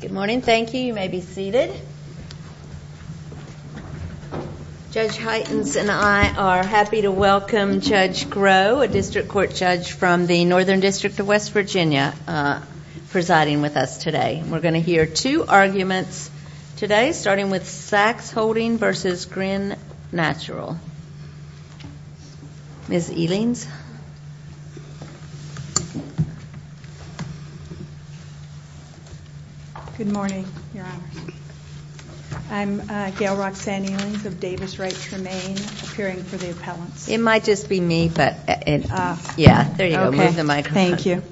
Good morning. Thank you. You may be seated. Judge Heitens and I are happy to welcome Judge Groh, a District Court Judge from the Northern District of West Virginia, presiding with us today. We're going to hear two arguments today, starting with Sacks Holdings v. Grin Natural. Ms. Elings? Good morning, Your Honors. I'm Gail Roxanne Elings of Davis Wright Tremaine, appearing for the appellants. It might just be me, but yeah, there you go. Move the mic. Thank you.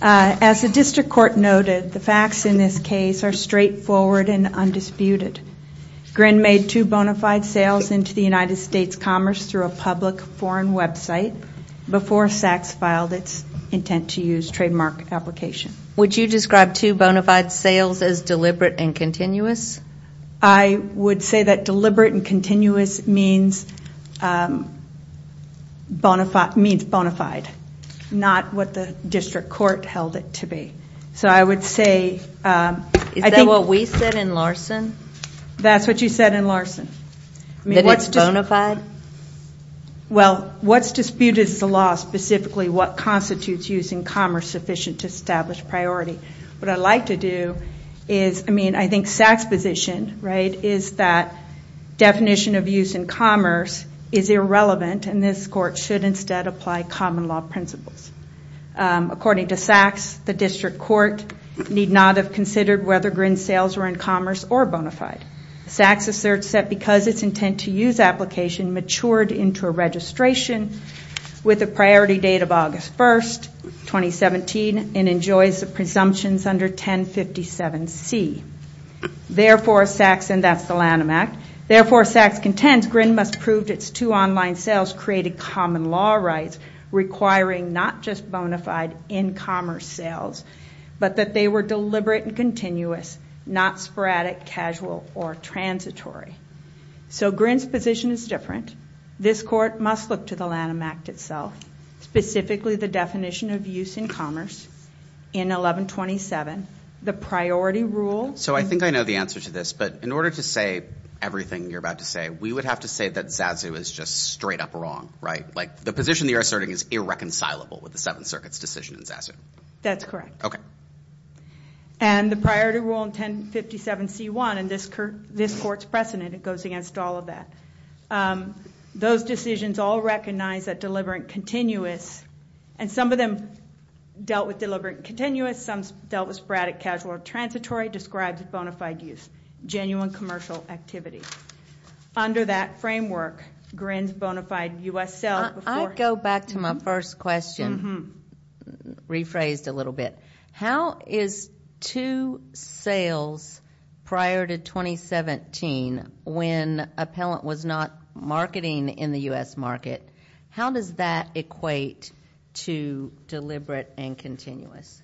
As the District Court noted, the facts in this case are straightforward and undisputed. Grin made two bona fide sales into the United States Commerce through a public foreign website before Sacks filed its intent-to-use trademark application. Would you describe two bona fide sales as deliberate and continuous? I would say that deliberate and continuous means bona fide, not what the District Court held it to be. Is that what we said in Larson? That's what you said in Larson. That it's bona fide? Well, what's disputed is the law, specifically what constitutes using commerce sufficient to establish priority. What I'd like to do is, I mean, I think Sacks' position is that definition of use in commerce is irrelevant, and this Court should instead apply common law principles. According to Sacks, the District Court need not have considered whether Grin's sales were in commerce or bona fide. Sacks asserts that because its intent-to-use application matured into a registration with a priority date of August 1, 2017, and enjoys the presumptions under 1057C. Therefore, Sacks, and that's the Lanham Act, therefore, Sacks contends Grin must prove its two online sales created common law rights requiring not just bona fide in commerce sales, but that they were deliberate and continuous, not sporadic, casual, or transitory. So Grin's position is different. This Court must look to the Lanham Act itself, specifically the definition of use in commerce in 1127, the priority rule. So I think I know the answer to this, but in order to say everything you're about to say, we would have to say that Zazu is just straight up wrong, right? Like the position that you're asserting is irreconcilable with the Seventh Circuit's decision in Zazu. That's correct. Okay. And the priority rule in 1057C1, and this Court's precedent, it goes against all of that. Those decisions all recognize that deliberate and continuous, and some of them dealt with deliberate and continuous, some dealt with sporadic, casual, or transitory, describes bona fide use, genuine commercial activity. Under that framework, Grin's bona fide U.S. sales before he was... I'd go back to my first question, rephrased a little bit. How is two sales prior to 2017, when appellant was not marketing in the U.S. market, how does that equate to deliberate and continuous?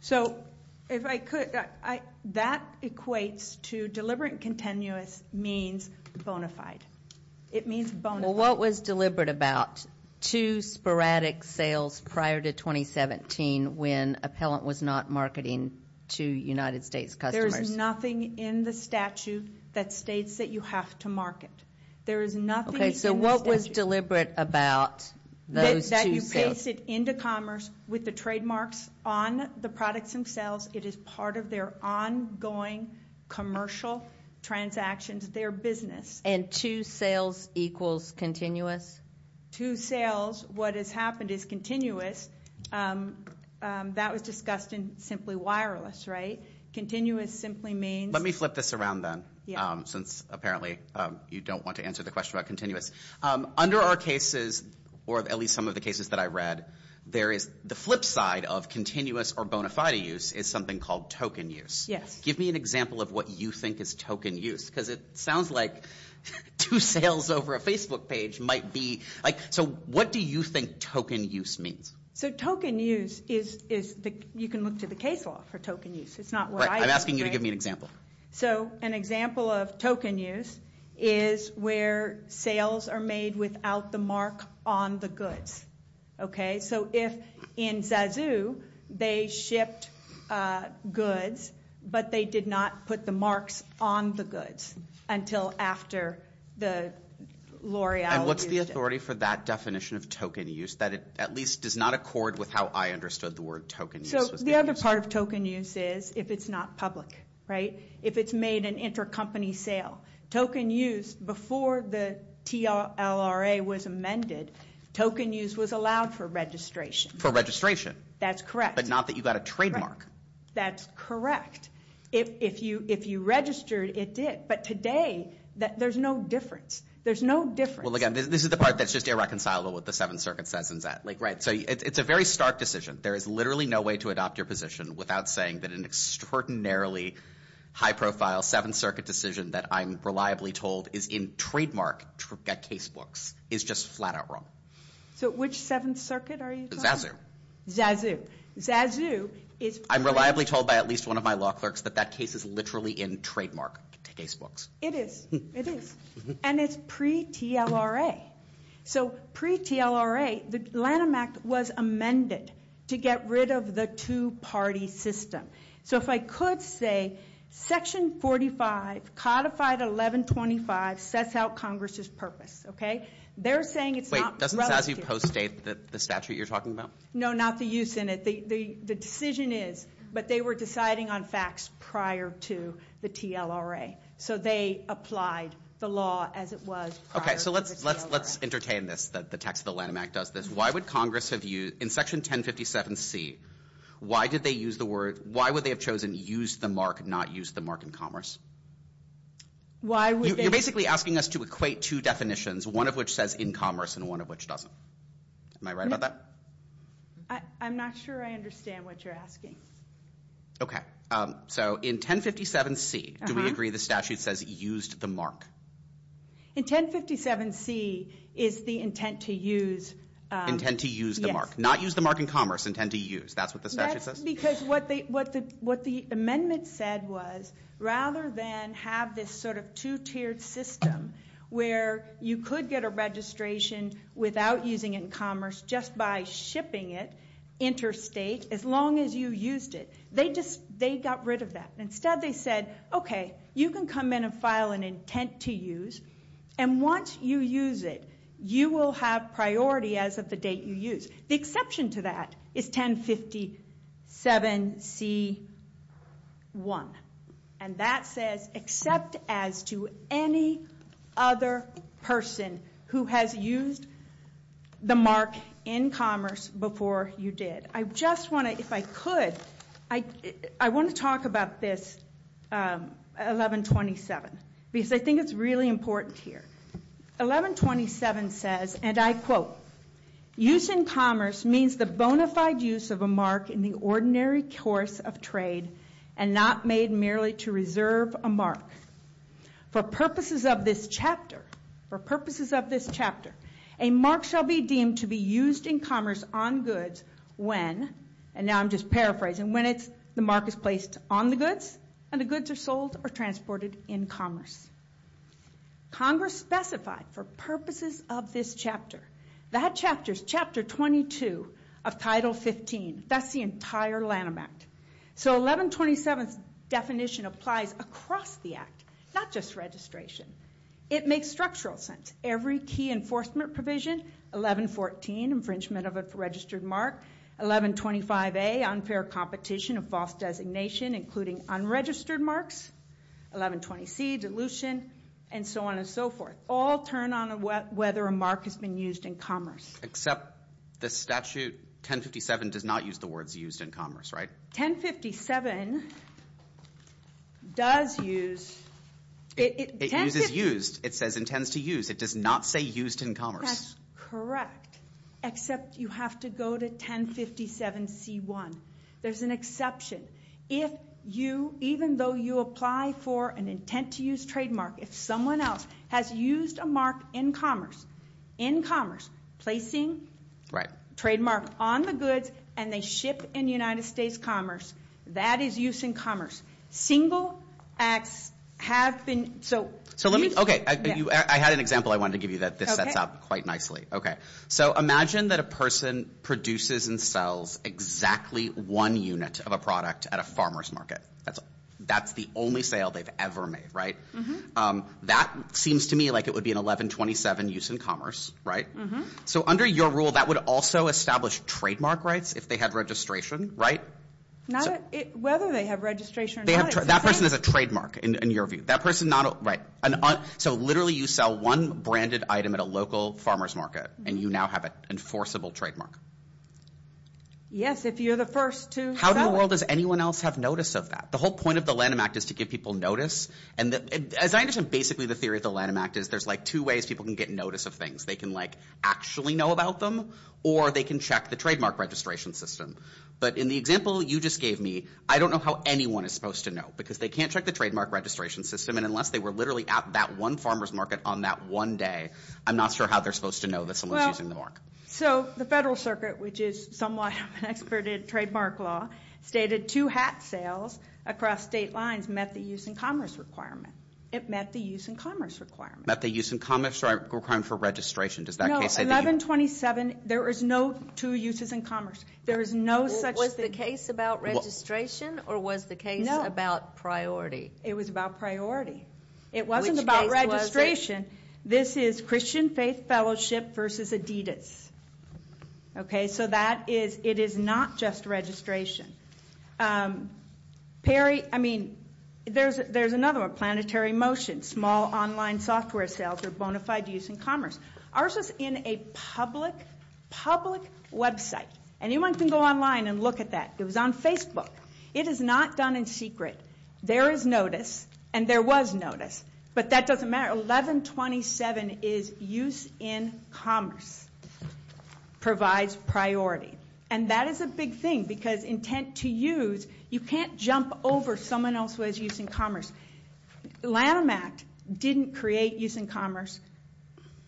So if I could, that equates to deliberate and continuous means bona fide. It means bona fide. Well, what was deliberate about two sporadic sales prior to 2017 when appellant was not marketing to United States customers? There is nothing in the statute that states that you have to market. Okay, so what was deliberate about those two sales? That you paste it into commerce with the trademarks on the products themselves. It is part of their ongoing commercial transactions, their business. And two sales equals continuous? Two sales, what has happened is continuous, that was discussed in simply wireless, right? Continuous simply means... I don't want to answer the question about continuous. Under our cases, or at least some of the cases that I read, the flip side of continuous or bona fide use is something called token use. Yes. Give me an example of what you think is token use, because it sounds like two sales over a Facebook page might be... So what do you think token use means? So token use is... you can look to the case law for token use. I'm asking you to give me an example. So an example of token use is where sales are made without the mark on the goods. Okay, so if in Zazu they shipped goods, but they did not put the marks on the goods until after the L'Oreal... And what's the authority for that definition of token use, that it at least does not accord with how I understood the word token use? The other part of token use is if it's not public, right? If it's made an intercompany sale. Token use, before the TLRA was amended, token use was allowed for registration. For registration. That's correct. But not that you got a trademark. That's correct. If you registered, it did. But today, there's no difference. There's no difference. Well, again, this is the part that's just irreconcilable with the Seventh Circuit says and that. So it's a very stark decision. There is literally no way to adopt your position without saying that an extraordinarily high-profile Seventh Circuit decision that I'm reliably told is in trademark casebooks is just flat out wrong. So which Seventh Circuit are you talking about? Zazu. Zazu is... I'm reliably told by at least one of my law clerks that that case is literally in trademark casebooks. It is. It is. And it's pre-TLRA. So pre-TLRA, the Lanham Act was amended to get rid of the two-party system. So if I could say, Section 45, codified 1125, sets out Congress's purpose. They're saying it's not relative. Wait, doesn't Zazu post-date the statute you're talking about? No, not the use in it. The decision is, but they were deciding on facts prior to the TLRA. So they applied the law as it was prior to the TLRA. Okay, so let's entertain this, that the text of the Lanham Act does this. Why would Congress have used... In Section 1057C, why did they use the word... Why would they have chosen use the mark, not use the mark in commerce? Why would they... You're basically asking us to equate two definitions, one of which says in commerce and one of which doesn't. Am I right about that? I'm not sure I understand what you're asking. Okay. So in 1057C, do we agree the statute says used the mark? In 1057C, is the intent to use... Intent to use the mark. Not use the mark in commerce, intent to use. That's what the statute says? That's because what the amendment said was, rather than have this sort of two-tiered system where you could get a registration without using it in commerce, just by shipping it interstate, as long as you used it. They just, they got rid of that. Instead, they said, okay, you can come in and file an intent to use, and once you use it, you will have priority as of the date you use. The exception to that is 1057C1. And that says, except as to any other person who has used the mark in commerce before you did. I just want to, if I could, I want to talk about this 1127, because I think it's really important here. 1127 says, and I quote, Use in commerce means the bona fide use of a mark in the ordinary course of trade, and not made merely to reserve a mark. For purposes of this chapter, for purposes of this chapter, a mark shall be deemed to be used in commerce on goods when, and now I'm just paraphrasing, when the mark is placed on the goods, and the goods are sold or transported in commerce. Congress specified, for purposes of this chapter, that chapter's chapter 22 of title 15. That's the entire Lanham Act. So 1127's definition applies across the Act, not just registration. It makes structural sense. Every key enforcement provision, 1114, infringement of a registered mark, 1125A, unfair competition of false designation, including unregistered marks, 1120C, dilution, and so on and so forth, all turn on whether a mark has been used in commerce. Except the statute 1057 does not use the words used in commerce, right? 1057 does use. It uses used. It says intends to use. It does not say used in commerce. That's correct. Except you have to go to 1057C1. There's an exception. If you, even though you apply for an intent to use trademark, if someone else has used a mark in commerce, in commerce, placing trademark on the goods, and they ship in United States commerce, that is use in commerce. Single acts have been, so... So let me, okay. I had an example I wanted to give you that this sets up quite nicely. Okay, so imagine that a person produces and sells exactly one unit of a product at a farmer's market. That's the only sale they've ever made, right? That seems to me like it would be an 1127 use in commerce, right? So under your rule, that would also establish trademark rights if they had registration, right? Whether they have registration or not, it's the same. That person is a trademark, in your view. That person not, right. So literally, you sell one branded item at a local farmer's market, and you now have an enforceable trademark. Yes, if you're the first to sell it. How in the world does anyone else have notice of that? The whole point of the Lanham Act is to give people notice. And as I understand, basically, the theory of the Lanham Act is there's, like, two ways people can get notice of things. They can, like, actually know about them, or they can check the trademark registration system. But in the example you just gave me, I don't know how anyone is supposed to know, because they can't check the trademark registration system, and unless they were literally at that one farmer's market on that one day, I'm not sure how they're supposed to know that someone's using the mark. So the Federal Circuit, which is somewhat of an expert in trademark law, stated two hat sales across state lines met the use in commerce requirement. It met the use in commerce requirement. Met the use in commerce requirement for registration. Does that case say... No, 1127, there is no two uses in commerce. There is no such... Was the case about registration, or was the case about priority? It was about priority. It wasn't about registration. Which case was it? This is Christian Faith Fellowship versus Adidas. Okay? So that is... It is not just registration. Perry... I mean, there's another one. Planetary Motion. Small online software sales are bona fide use in commerce. Ours was in a public, public website. Anyone can go online and look at that. It was on Facebook. It is not done in secret. There is notice, and there was notice. But that doesn't matter. 1127 is use in commerce. Provides priority. And that is a big thing, because intent to use... You can't jump over someone else who has use in commerce. Lanham Act didn't create use in commerce.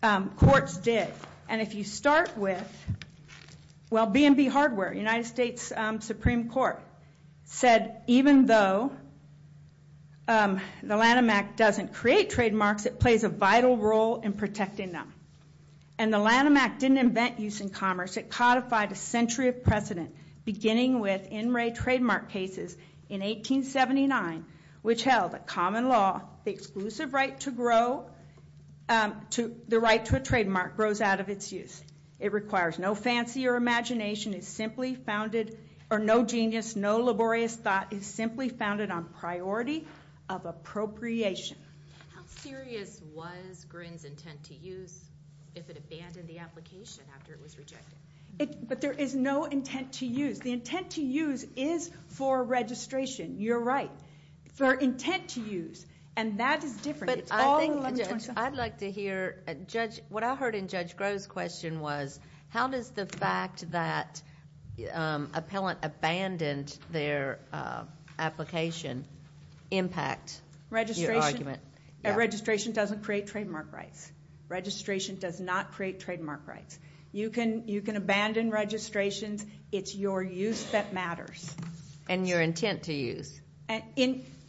Courts did. And if you start with... Well, B&B Hardware, United States Supreme Court, said even though the Lanham Act doesn't create trademarks, it plays a vital role in protecting them. And the Lanham Act didn't invent use in commerce. It codified a century of precedent, beginning with NRA trademark cases in 1879, which held that common law, the exclusive right to grow, the right to a trademark grows out of its use. It requires no fancy or imagination. No imagination is simply founded, or no genius, no laborious thought, is simply founded on priority of appropriation. How serious was Grin's intent to use if it abandoned the application after it was rejected? But there is no intent to use. The intent to use is for registration. You're right. For intent to use. And that is different. It's all 1127. I'd like to hear... What I heard in Judge Groh's question was, how does the fact that an appellant abandoned their application impact your argument? Registration doesn't create trademark rights. Registration does not create trademark rights. You can abandon registrations. It's your use that matters. And your intent to use.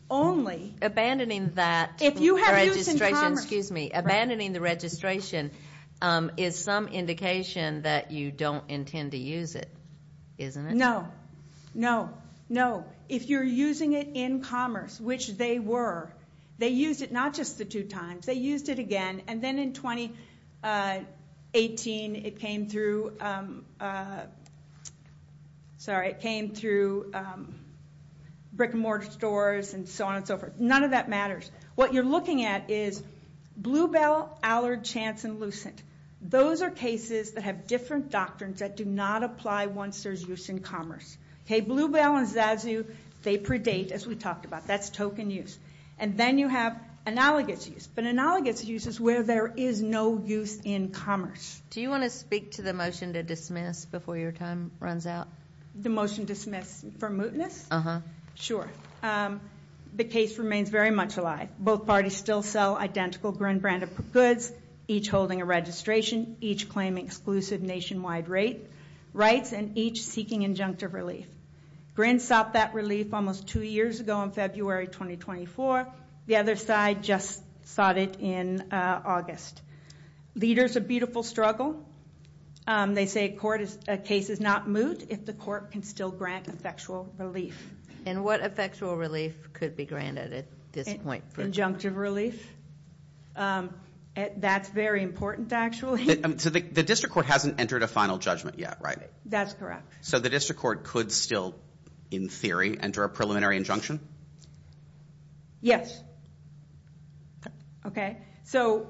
Only... Abandoning that registration... If you have use in commerce... Abandoning the registration is some indication that you don't intend to use it. Isn't it? No. No. No. If you're using it in commerce, which they were, they used it not just the two times. They used it again. And then in 2018, it came through... Sorry. It came through brick-and-mortar stores and so on and so forth. None of that matters. What you're looking at is Bluebell, Allard, Chance, and Lucent. Those are cases that have different doctrines that do not apply once there's use in commerce. Bluebell and Zazu, they predate, as we talked about. That's token use. And then you have analogous use. But analogous use is where there is no use in commerce. Do you want to speak to the motion to dismiss before your time runs out? The motion to dismiss for mootness? Uh-huh. Sure. The case remains very much alive. Both parties still sell identical Grin branded goods, each holding a registration, each claiming exclusive nationwide rights, and each seeking injunctive relief. Grin sought that relief almost two years ago in February 2024. The other side just sought it in August. Leaders, a beautiful struggle. They say a case is not moot if the court can still grant effectual relief. And what effectual relief could be granted at this point? Injunctive relief. That's very important, actually. The district court hasn't entered a final judgment yet, right? That's correct. So the district court could still, in theory, enter a preliminary injunction? Yes. Okay. So,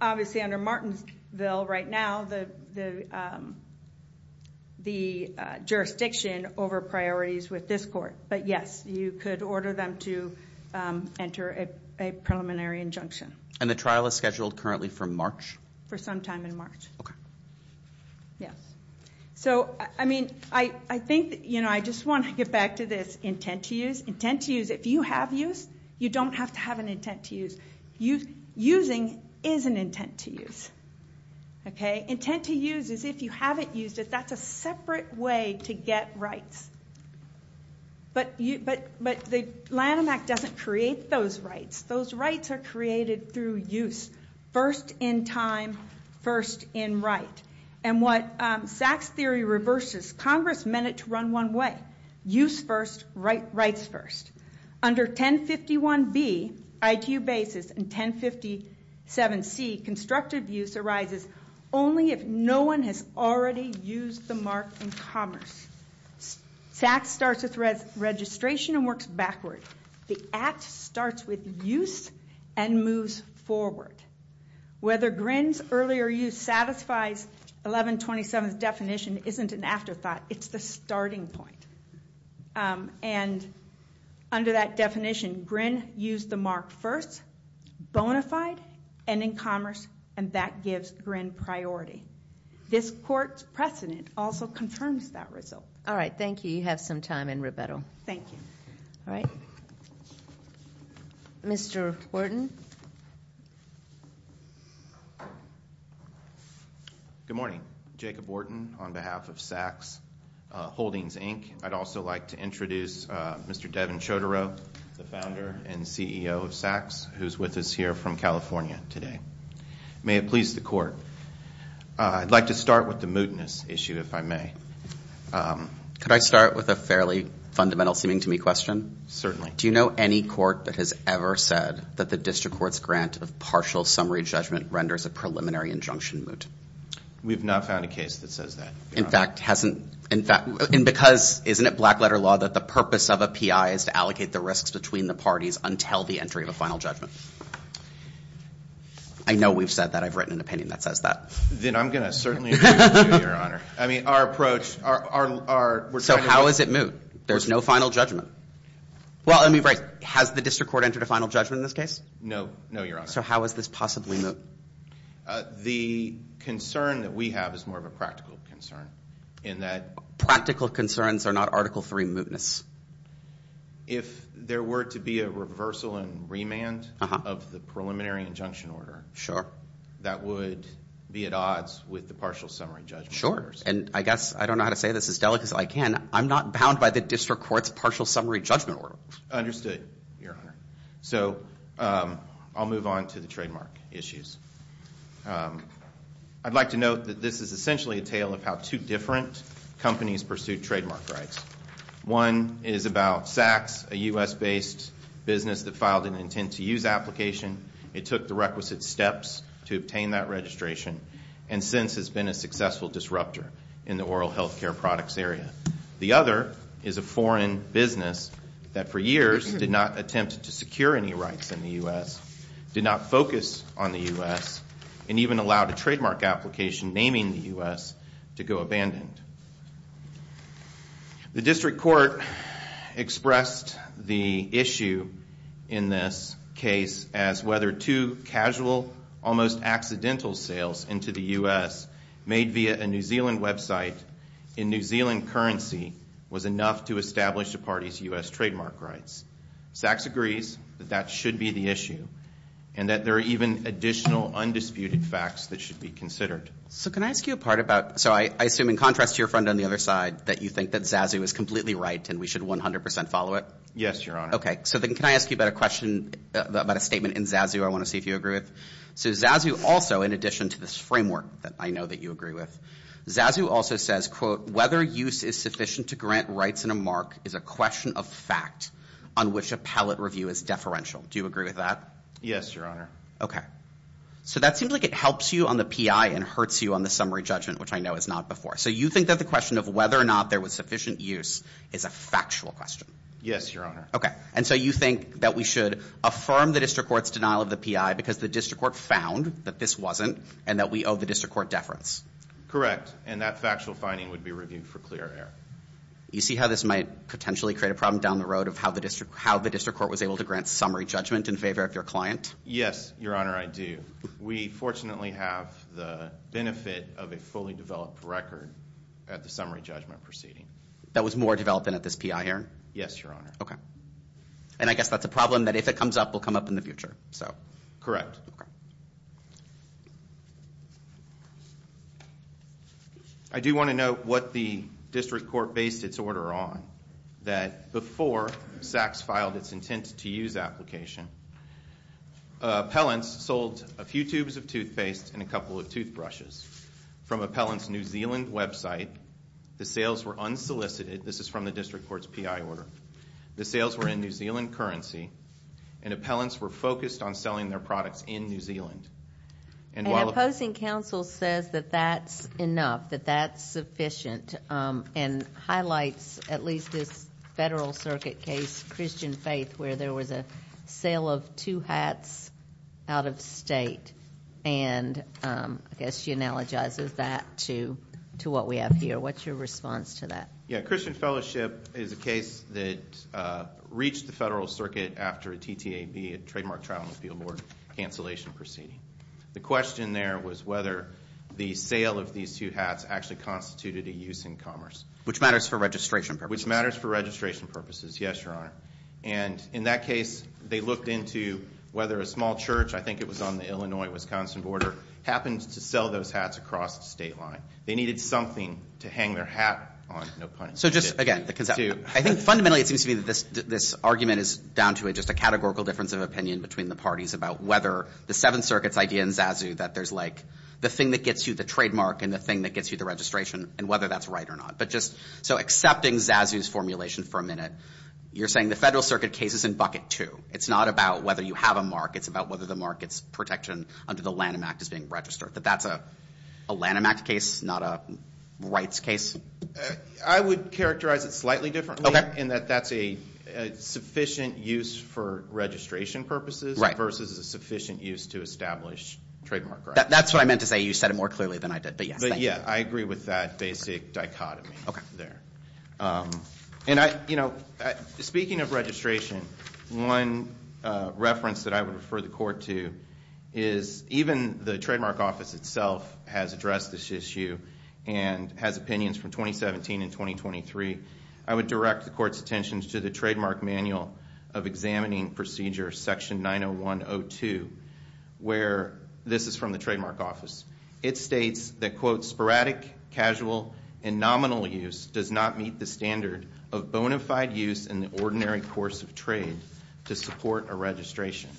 obviously, under Martinsville right now, the jurisdiction over priorities with this court. But, yes, you could order them to enter a preliminary injunction. And the trial is scheduled currently for March? For some time in March. Okay. Yes. So, I mean, I think, you know, I just want to get back to this intent to use. If you have use, you don't have to have an intent to use. Using is an intent to use. Intent to use is if you haven't used it. That's a separate way to get rights. But the Lanham Act doesn't create those rights. Those rights are created through use. First in time, first in right. And what Sachs theory reverses, Congress meant it to run one way. Use first, rights first. Under 1051B, IQ basis, and 1057C, constructive use arises only if no one has already used the mark in commerce. Sachs starts with registration and works backward. The Act starts with use and moves forward. Whether Grin's earlier use satisfies 1127's definition isn't an afterthought. It's the starting point. And under that definition, Grin used the mark first, bona fide, and in commerce, and that gives Grin priority. This court's precedent also confirms that result. All right. Thank you. You have some time in rebuttal. Thank you. All right. Mr. Wharton. Good morning. Jacob Wharton on behalf of Sachs Holdings, Inc. I'd also like to introduce Mr. Devin Chodorow, the founder and CEO of Sachs, who's with us here from California today. May it please the court. I'd like to start with the mootness issue, if I may. Could I start with a fairly fundamental-seeming-to-me question? Certainly. Do you know any court that has ever said that the district court's grant of partial summary judgment renders a preliminary injunction moot? We've not found a case that says that, Your Honor. In fact, hasn't – and because, isn't it black-letter law that the purpose of a PI is to allocate the risks between the parties until the entry of a final judgment? I know we've said that. I've written an opinion that says that. Then I'm going to certainly agree with you, Your Honor. I mean, our approach – So how is it moot? There's no final judgment. Well, I mean, right. Has the district court entered a final judgment in this case? No, Your Honor. So how is this possibly moot? The concern that we have is more of a practical concern in that – Practical concerns are not Article III mootness. If there were to be a reversal and remand of the preliminary injunction order, that would be at odds with the partial summary judgment. Sure, and I guess – I don't know how to say this as delicately as I can. I'm not bound by the district court's partial summary judgment order. Understood, Your Honor. So I'll move on to the trademark issues. I'd like to note that this is essentially a tale of how two different companies pursued trademark rights. One is about Saks, a U.S.-based business that filed an intent-to-use application. It took the requisite steps to obtain that registration and since has been a successful disruptor in the oral health care products area. The other is a foreign business that for years did not attempt to secure any rights in the U.S., did not focus on the U.S., and even allowed a trademark application naming the U.S. to go abandoned. The district court expressed the issue in this case as whether two casual, almost accidental sales into the U.S. made via a New Zealand website in New Zealand currency was enough to establish a party's U.S. trademark rights. Saks agrees that that should be the issue and that there are even additional undisputed facts that should be considered. So can I ask you a part about – so I assume in contrast to your friend on the other side, that you think that Zazu is completely right and we should 100 percent follow it? Yes, Your Honor. Okay, so then can I ask you about a question about a statement in Zazu I want to see if you agree with? So Zazu also, in addition to this framework that I know that you agree with, Zazu also says, quote, whether use is sufficient to grant rights in a MARC is a question of fact on which appellate review is deferential. Do you agree with that? Yes, Your Honor. Okay. So that seems like it helps you on the PI and hurts you on the summary judgment, which I know is not before. So you think that the question of whether or not there was sufficient use is a factual question? Yes, Your Honor. Okay, and so you think that we should affirm the district court's denial of the PI because the district court found that this wasn't and that we owe the district court deference? Correct, and that factual finding would be reviewed for clear error. You see how this might potentially create a problem down the road of how the district court was able to grant summary judgment in favor of your client? Yes, Your Honor, I do. We fortunately have the benefit of a fully developed record at the summary judgment proceeding. That was more developed than at this PI hearing? Yes, Your Honor. Okay, and I guess that's a problem that if it comes up, will come up in the future, so. Correct. I do want to note what the district court based its order on. That before SACS filed its intent to use application, appellants sold a few tubes of toothpaste and a couple of toothbrushes from appellants New Zealand website. The sales were unsolicited. This is from the district court's PI order. The sales were in New Zealand currency, and appellants were focused on selling their products in New Zealand. And opposing counsel says that that's enough, that that's sufficient, and highlights at least this federal circuit case, Christian Faith, where there was a sale of two hats out of state, and I guess she analogizes that to what we have here. What's your response to that? Yeah, Christian Fellowship is a case that reached the federal circuit after a TTAB, a Trademark Trial and Appeal Board, cancellation proceeding. The question there was whether the sale of these two hats actually constituted a use in commerce. Which matters for registration purposes. Which matters for registration purposes, yes, Your Honor. And in that case, they looked into whether a small church, I think it was on the Illinois-Wisconsin border, happened to sell those hats across the state line. They needed something to hang their hat on, no pun intended. So just again, I think fundamentally it seems to me that this argument is down to just a categorical difference of opinion between the parties about whether the Seventh Circuit's idea in Zazu that there's like the thing that gets you the trademark and the thing that gets you the registration and whether that's right or not. But just, so accepting Zazu's formulation for a minute, you're saying the federal circuit case is in bucket two. It's not about whether you have a mark. It's about whether the mark, it's protection under the Lanham Act is being registered. But that's a Lanham Act case, not a rights case? I would characterize it slightly differently in that that's a sufficient use for registration purposes versus a sufficient use to establish trademark rights. That's what I meant to say. You said it more clearly than I did. But yes, thank you. I agree with that basic dichotomy there. And I, you know, speaking of registration, one reference that I would refer the court to is even the trademark office itself has addressed this issue and has opinions from 2017 and 2023. I would direct the court's attention to the trademark manual of examining procedure section 901-02, where this is from the trademark office. It states that, quote, sporadic, casual, and nominal use does not meet the standard of bona fide use in the ordinary course of trade to support a registration.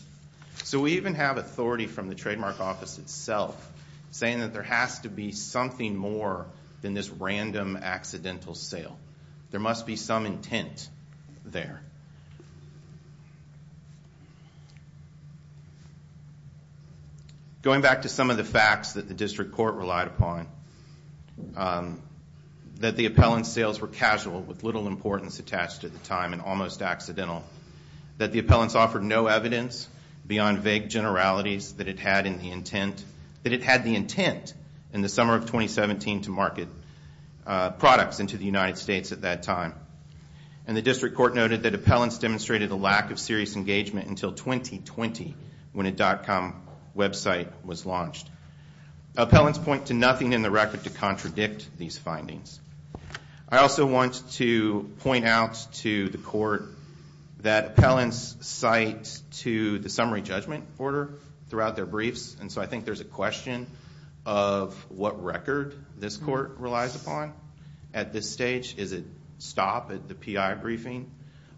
So we even have authority from the trademark office itself saying that there has to be something more than this random accidental sale. There must be some intent there. Going back to some of the facts that the district court relied upon, that the appellant's sales were casual with little importance attached to the time and almost accidental, that the appellants offered no evidence beyond vague generalities that it had in the intent, that it had the intent in the summer of 2017 to market products into the United States at that time. And the district court noted that appellants demonstrated a lack of serious engagement until 2020 when a dot-com website was launched. Appellants point to nothing in the record to contradict these findings. I also want to point out to the court that appellants cite to the summary judgment order throughout their briefs, and so I think there's a question of what record this court relies upon at this stage. Is it stop at the P.I. briefing?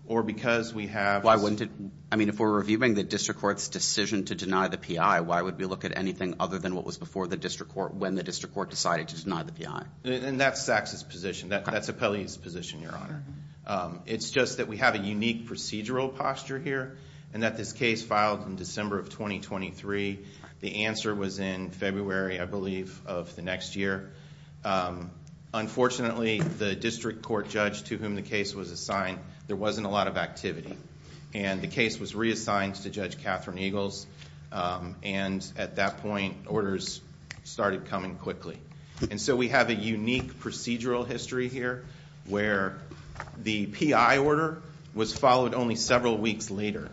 Or because we have... Why wouldn't it? I mean, if we're reviewing the district court's decision to deny the P.I., why would we look at anything other than what was before the district court when the district court decided to deny the P.I.? And that's Sachs' position. That's Appellee's position, Your Honor. It's just that we have a unique procedural posture here and that this case filed in December of 2023. The answer was in February, I believe, of the next year. Unfortunately, the district court judge to whom the case was assigned, there wasn't a lot of activity. And the case was reassigned to Judge Catherine Eagles, and at that point, orders started coming quickly. And so we have a unique procedural history here where the P.I. order was followed only several weeks later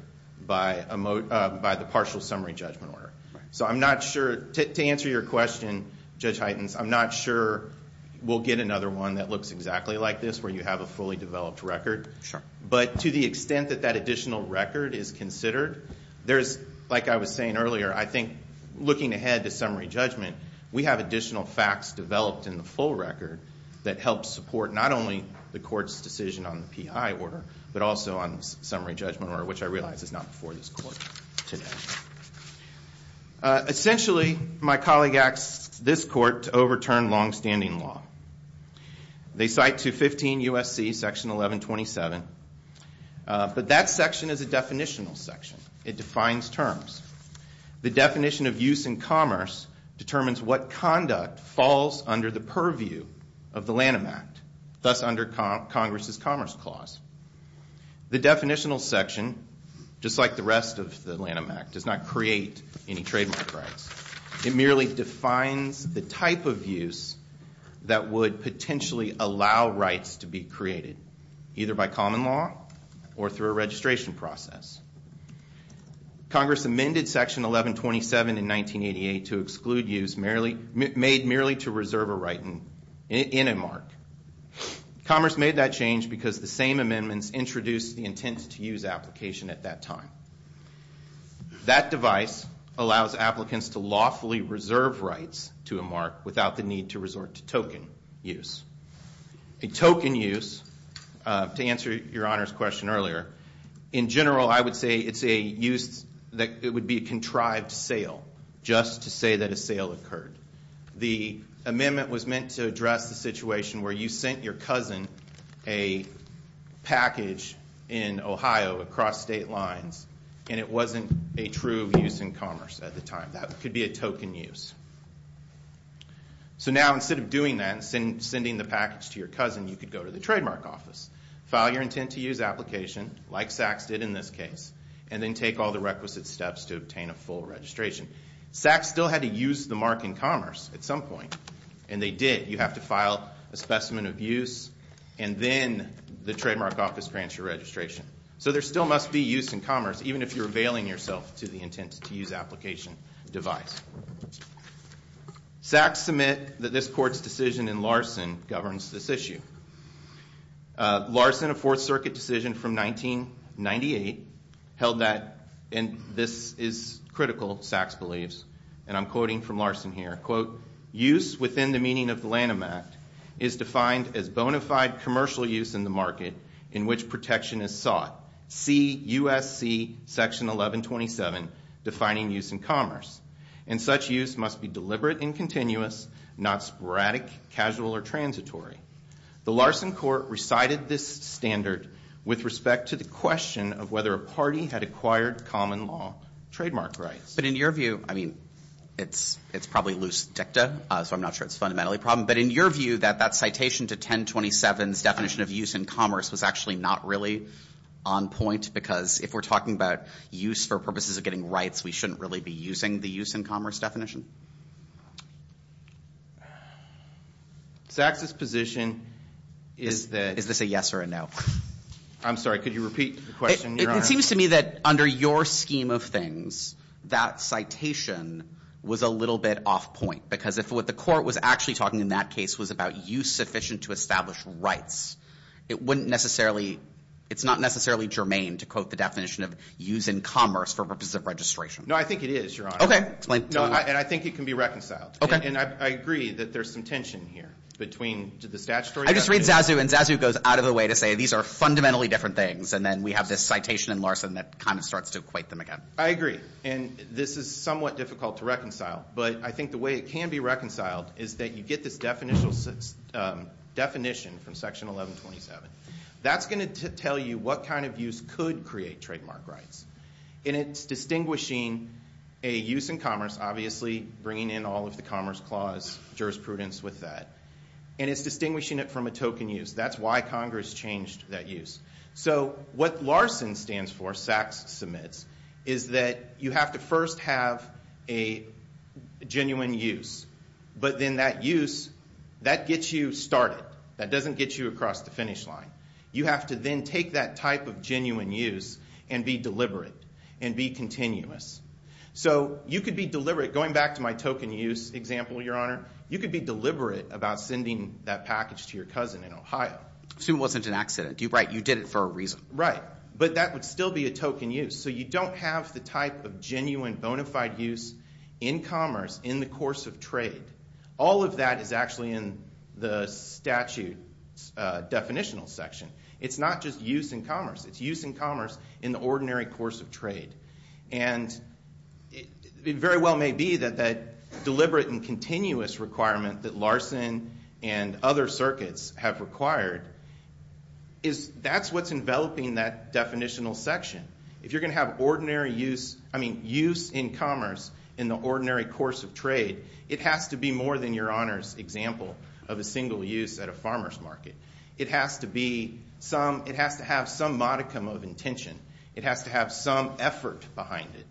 by the partial summary judgment order. So I'm not sure... To answer your question, Judge Heitens, I'm not sure we'll get another one that looks exactly like this where you have a fully developed record. But to the extent that that additional record is considered, there's... Like I was saying earlier, I think looking ahead to summary judgment, we have additional facts developed in the full record that help support not only the court's decision on the P.I. order, but also on the summary judgment order, which I realize is not before this court today. Essentially, my colleague asked this court to overturn longstanding law. They cite 215 U.S.C. Section 1127. But that section is a definitional section. It defines terms. The definition of use in commerce determines what conduct falls under the purview of the Lanham Act, thus under Congress's Commerce Clause. The definitional section, just like the rest of the Lanham Act, does not create any trademark rights. It merely defines the type of use that would potentially allow rights to be created, either by common law or through a registration process. Congress amended Section 1127 in 1988 to exclude use made merely to reserve a right in a mark. Commerce made that change because the same amendments introduced the intent to use application at that time. That device allows applicants to lawfully reserve rights to a mark without the need to resort to token use. A token use, to answer your Honor's question earlier, in general I would say it's a use that would be a contrived sale, just to say that a sale occurred. The amendment was meant to address the situation where you sent your cousin a package in Ohio across state lines, and it wasn't a true use in commerce at the time. That could be a token use. So now instead of doing that and sending the package to your cousin, you could go to the Trademark Office, file your intent to use application, like Sachs did in this case, and then take all the requisite steps to obtain a full registration. Sachs still had to use the mark in commerce at some point, and they did. You have to file a specimen of use, and then the Trademark Office grants your registration. So there still must be use in commerce, even if you're availing yourself to the intent to use application device. Sachs submit that this Court's decision in Larson governs this issue. Larson, a Fourth Circuit decision from 1998, held that, and this is critical, Sachs believes, and I'm quoting from Larson here, quote, use within the meaning of the Lanham Act is defined as bona fide commercial use in the market in which protection is sought. See USC section 1127, defining use in commerce. And such use must be deliberate and continuous, not sporadic, casual, or transitory. The Larson Court recited this standard with respect to the question of whether a party had acquired common law trademark rights. But in your view, I mean, it's probably loose dicta, so I'm not sure it's fundamentally a problem. But in your view, that that citation to 1027's definition of use in commerce was actually not really on point, because if we're talking about use for purposes of getting rights, we shouldn't really be using the use in commerce definition? Sachs's position is that- Is this a yes or a no? I'm sorry, could you repeat the question, Your Honor? It seems to me that under your scheme of things, that citation was a little bit off point, because if what the court was actually talking in that case was about use sufficient to establish rights, it wouldn't necessarily, it's not necessarily germane to quote the definition of use in commerce for purposes of registration. No, I think it is, Your Honor. Okay, explain. No, and I think it can be reconciled. Okay. And I agree that there's some tension here between the statutory definition- I just read Zazu, and Zazu goes out of the way to say these are fundamentally different things, and then we have this citation in Larson that kind of starts to equate them again. I agree, and this is somewhat difficult to reconcile, but I think the way it can be reconciled is that you get this definition from Section 1127. That's going to tell you what kind of use could create trademark rights, and it's distinguishing a use in commerce, obviously bringing in all of the Commerce Clause jurisprudence with that, and it's distinguishing it from a token use. That's why Congress changed that use. So what Larson stands for, SACS submits, is that you have to first have a genuine use, but then that use, that gets you started. That doesn't get you across the finish line. You have to then take that type of genuine use and be deliberate and be continuous. So you could be deliberate, going back to my token use example, Your Honor, you could be deliberate about sending that package to your cousin in Ohio. Assume it wasn't an accident. Right, you did it for a reason. Right, but that would still be a token use, so you don't have the type of genuine bona fide use in commerce in the course of trade. All of that is actually in the statute's definitional section. It's not just use in commerce. It's use in commerce in the ordinary course of trade, and it very well may be that that deliberate and continuous requirement that Larson and other circuits have required is that's what's enveloping that definitional section. If you're going to have use in commerce in the ordinary course of trade, it has to be more than Your Honor's example of a single use at a farmer's market. It has to have some modicum of intention. It has to have some effort behind it.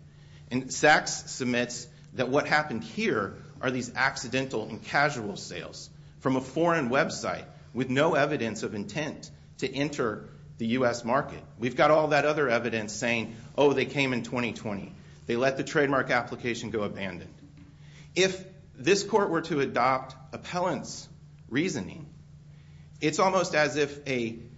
And Sachs submits that what happened here are these accidental and casual sales from a foreign website with no evidence of intent to enter the U.S. market. We've got all that other evidence saying, oh, they came in 2020. They let the trademark application go abandoned. If this court were to adopt appellant's reasoning, it's almost as if an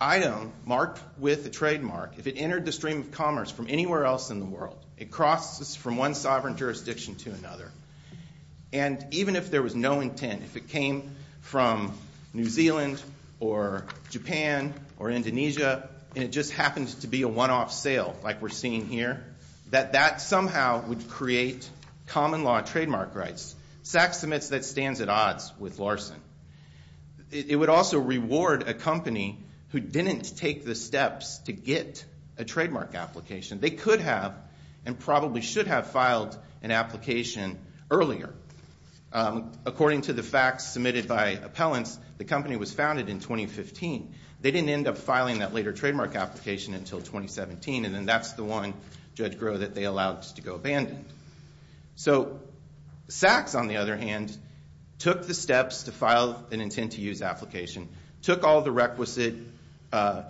item marked with a trademark, if it entered the stream of commerce from anywhere else in the world, it crosses from one sovereign jurisdiction to another, and even if there was no intent, if it came from New Zealand or Japan or Indonesia and it just happens to be a one-off sale like we're seeing here, that that somehow would create common law trademark rights. Sachs submits that stands at odds with Larson. It would also reward a company who didn't take the steps to get a trademark application. They could have and probably should have filed an application earlier. According to the facts submitted by appellants, the company was founded in 2015. They didn't end up filing that later trademark application until 2017, and then that's the one, Judge Groh, that they allowed to go abandoned. So Sachs, on the other hand, took the steps to file an intent-to-use application, took all the requisite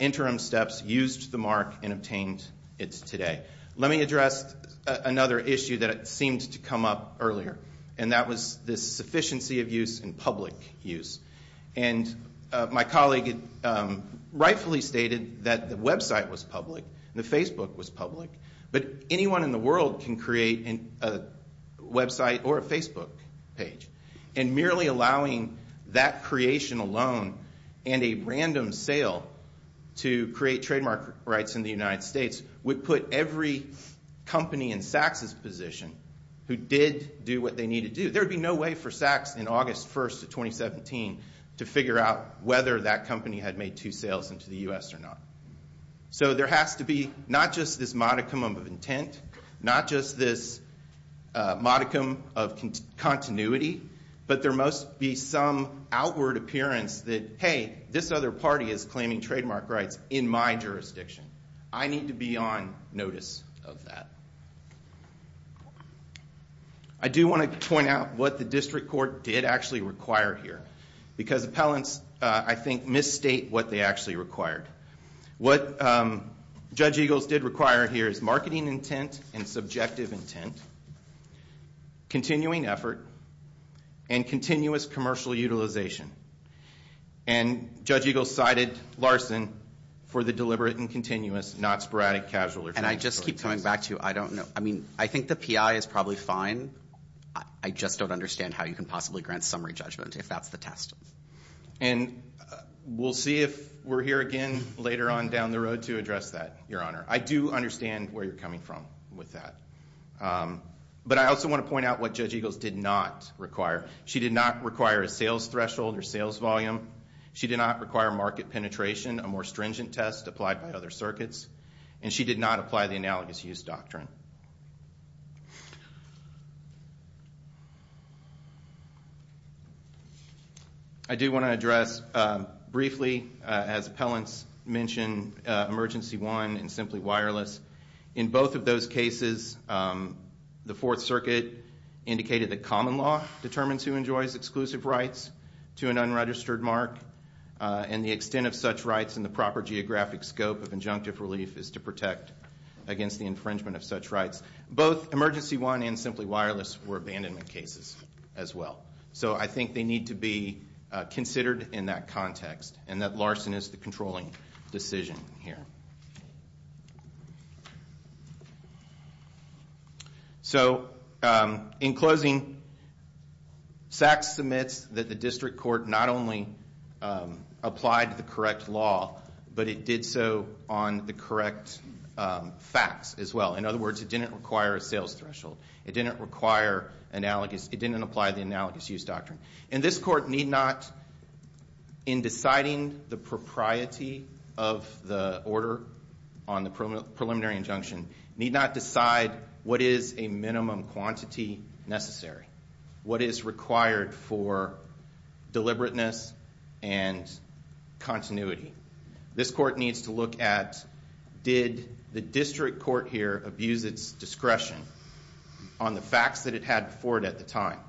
interim steps, used the mark, and obtained it today. Let me address another issue that seemed to come up earlier, and that was the sufficiency of use and public use. And my colleague rightfully stated that the website was public, the Facebook was public, but anyone in the world can create a website or a Facebook page, and merely allowing that creation alone and a random sale to create trademark rights in the United States would put every company in Sachs' position who did do what they needed to do. There would be no way for Sachs in August 1st of 2017 to figure out whether that company had made two sales into the U.S. or not. So there has to be not just this modicum of intent, not just this modicum of continuity, but there must be some outward appearance that, hey, this other party is claiming trademark rights in my jurisdiction. I need to be on notice of that. I do want to point out what the district court did actually require here because appellants, I think, misstate what they actually required. What Judge Eagles did require here is marketing intent and subjective intent, continuing effort, and continuous commercial utilization. And Judge Eagles cited Larson for the deliberate and continuous, not sporadic, casual or transactional intent. And I just keep coming back to I don't know. I mean, I think the PI is probably fine. I just don't understand how you can possibly grant summary judgment if that's the test. And we'll see if we're here again later on down the road to address that, Your Honor. I do understand where you're coming from with that. But I also want to point out what Judge Eagles did not require. She did not require a sales threshold or sales volume. She did not require market penetration, a more stringent test applied by other circuits. And she did not apply the analogous use doctrine. I do want to address briefly, as appellants mentioned, emergency one and simply wireless. In both of those cases, the Fourth Circuit indicated that common law determines who enjoys exclusive rights to an unregistered mark and the extent of such rights and the proper geographic scope of injunctive relief is to protect against the infringement of such rights. Both emergency one and simply wireless were abandonment cases as well. So I think they need to be considered in that context and that larceny is the controlling decision here. So in closing, SACS submits that the district court not only applied the correct law, but it did so on the correct facts as well. In other words, it didn't require a sales threshold. It didn't apply the analogous use doctrine. And this court need not, in deciding the propriety of the order on the preliminary injunction, need not decide what is a minimum quantity necessary, what is required for deliberateness and continuity. This court needs to look at, did the district court here abuse its discretion on the facts that it had before it at the time?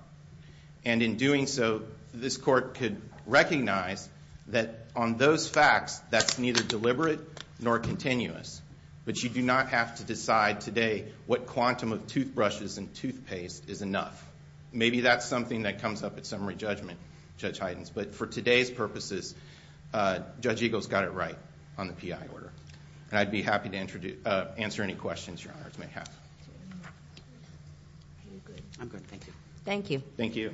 And in doing so, this court could recognize that on those facts, that's neither deliberate nor continuous. But you do not have to decide today what quantum of toothbrushes and toothpaste is enough. Maybe that's something that comes up at summary judgment, Judge Heidens. But for today's purposes, Judge Eagle's got it right on the PI order. And I'd be happy to answer any questions your honors may have. I'm good, thank you. Thank you. Thank you. Thank you.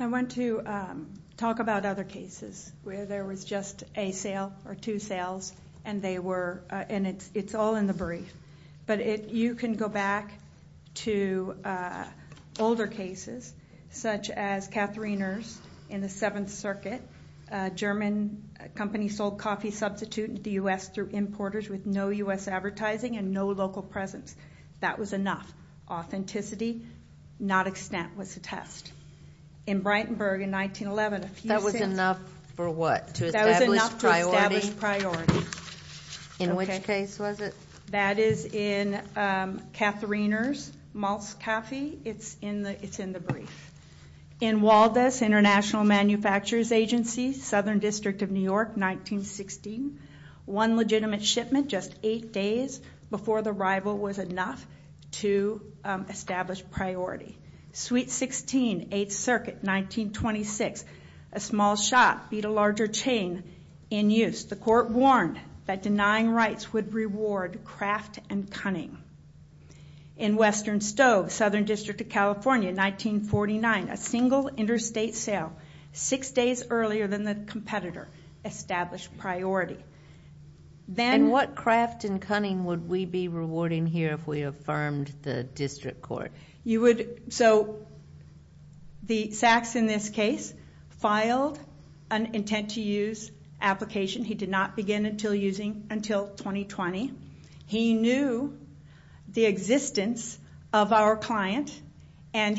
I want to talk about other cases where there was just a sale or two sales and they were, and it's all in the brief. But you can go back to older cases, such as Katharine Erst in the Seventh Circuit. A German company sold coffee substitute to the U.S. through importers with no U.S. advertising and no local presence. That was enough. Authenticity, not extent, was the test. In Breitenberg in 1911, a few things. That was enough for what? To establish priority? That was enough to establish priority. In which case was it? That is in Katharine Erst's Malzkaffee. It's in the brief. In Waldus International Manufacturers Agency, Southern District of New York, 1916. One legitimate shipment just eight days before the arrival was enough to establish priority. Suite 16, Eighth Circuit, 1926. A small shop beat a larger chain in use. The court warned that denying rights would reward craft and cunning. In Western Stove, Southern District of California, 1949. A single interstate sale six days earlier than the competitor established priority. And what craft and cunning would we be rewarding here if we affirmed the district court? So Sachs, in this case, filed an intent to use application. He did not begin until 2020. He knew the existence of our client. And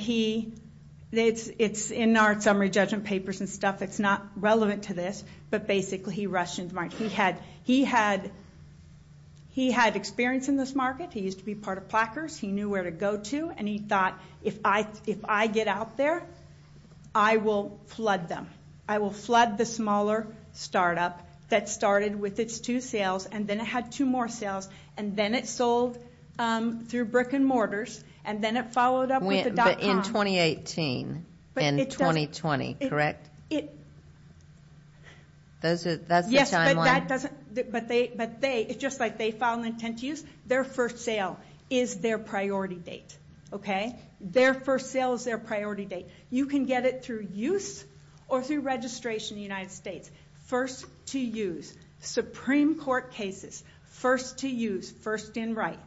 it's in our summary judgment papers and stuff that's not relevant to this. But basically, he rushed into the market. He had experience in this market. He used to be part of Plackers. He knew where to go to. And he thought, if I get out there, I will flood them. I will flood the smaller startup that started with its two sales. And then it had two more sales. And then it sold through brick and mortars. And then it followed up with the dot com. But in 2018 and 2020, correct? It – That's the timeline? Yes, but that doesn't – but they – it's just like they filed an intent to use. Their first sale is their priority date. Their first sale is their priority date. You can get it through use or through registration in the United States. First to use. Supreme Court cases. First to use. First in right.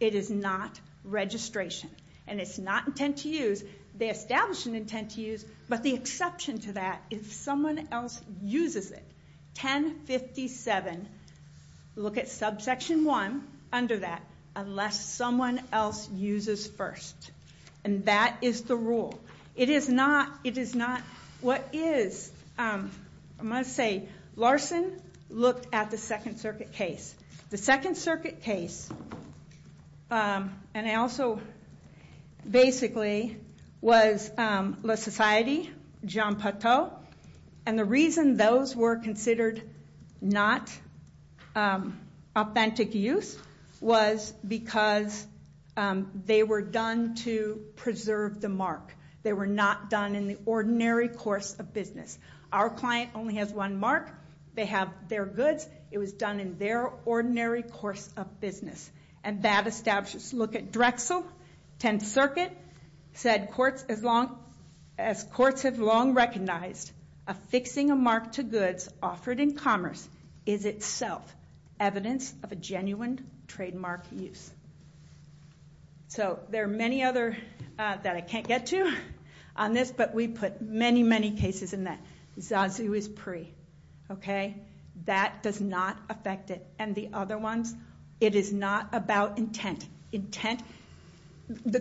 It is not registration. And it's not intent to use. They established an intent to use. But the exception to that is someone else uses it. 1057. Look at subsection 1 under that. Unless someone else uses first. And that is the rule. It is not – it is not – what is – I'm going to say Larson looked at the Second Circuit case. The Second Circuit case, and I also basically was La Societe, Jean Pateau. And the reason those were considered not authentic use was because they were done to preserve the mark. They were not done in the ordinary course of business. Our client only has one mark. They have their goods. It was done in their ordinary course of business. And that establishes – look at Drexel, 10th Circuit, said courts as long – as courts have long recognized, affixing a mark to goods offered in commerce is itself evidence of a genuine trademark use. So there are many other that I can't get to on this, but we put many, many cases in that. Zazu is pre. Okay? That does not affect it. And the other ones, it is not about intent. Intent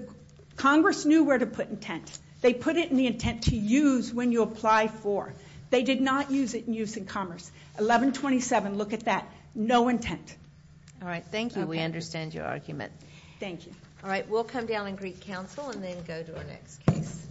– Congress knew where to put intent. They put it in the intent to use when you apply for. They did not use it in use in commerce. 1127, look at that, no intent. All right. Thank you. We understand your argument. Thank you. All right. We'll come down and greet counsel and then go to our next case.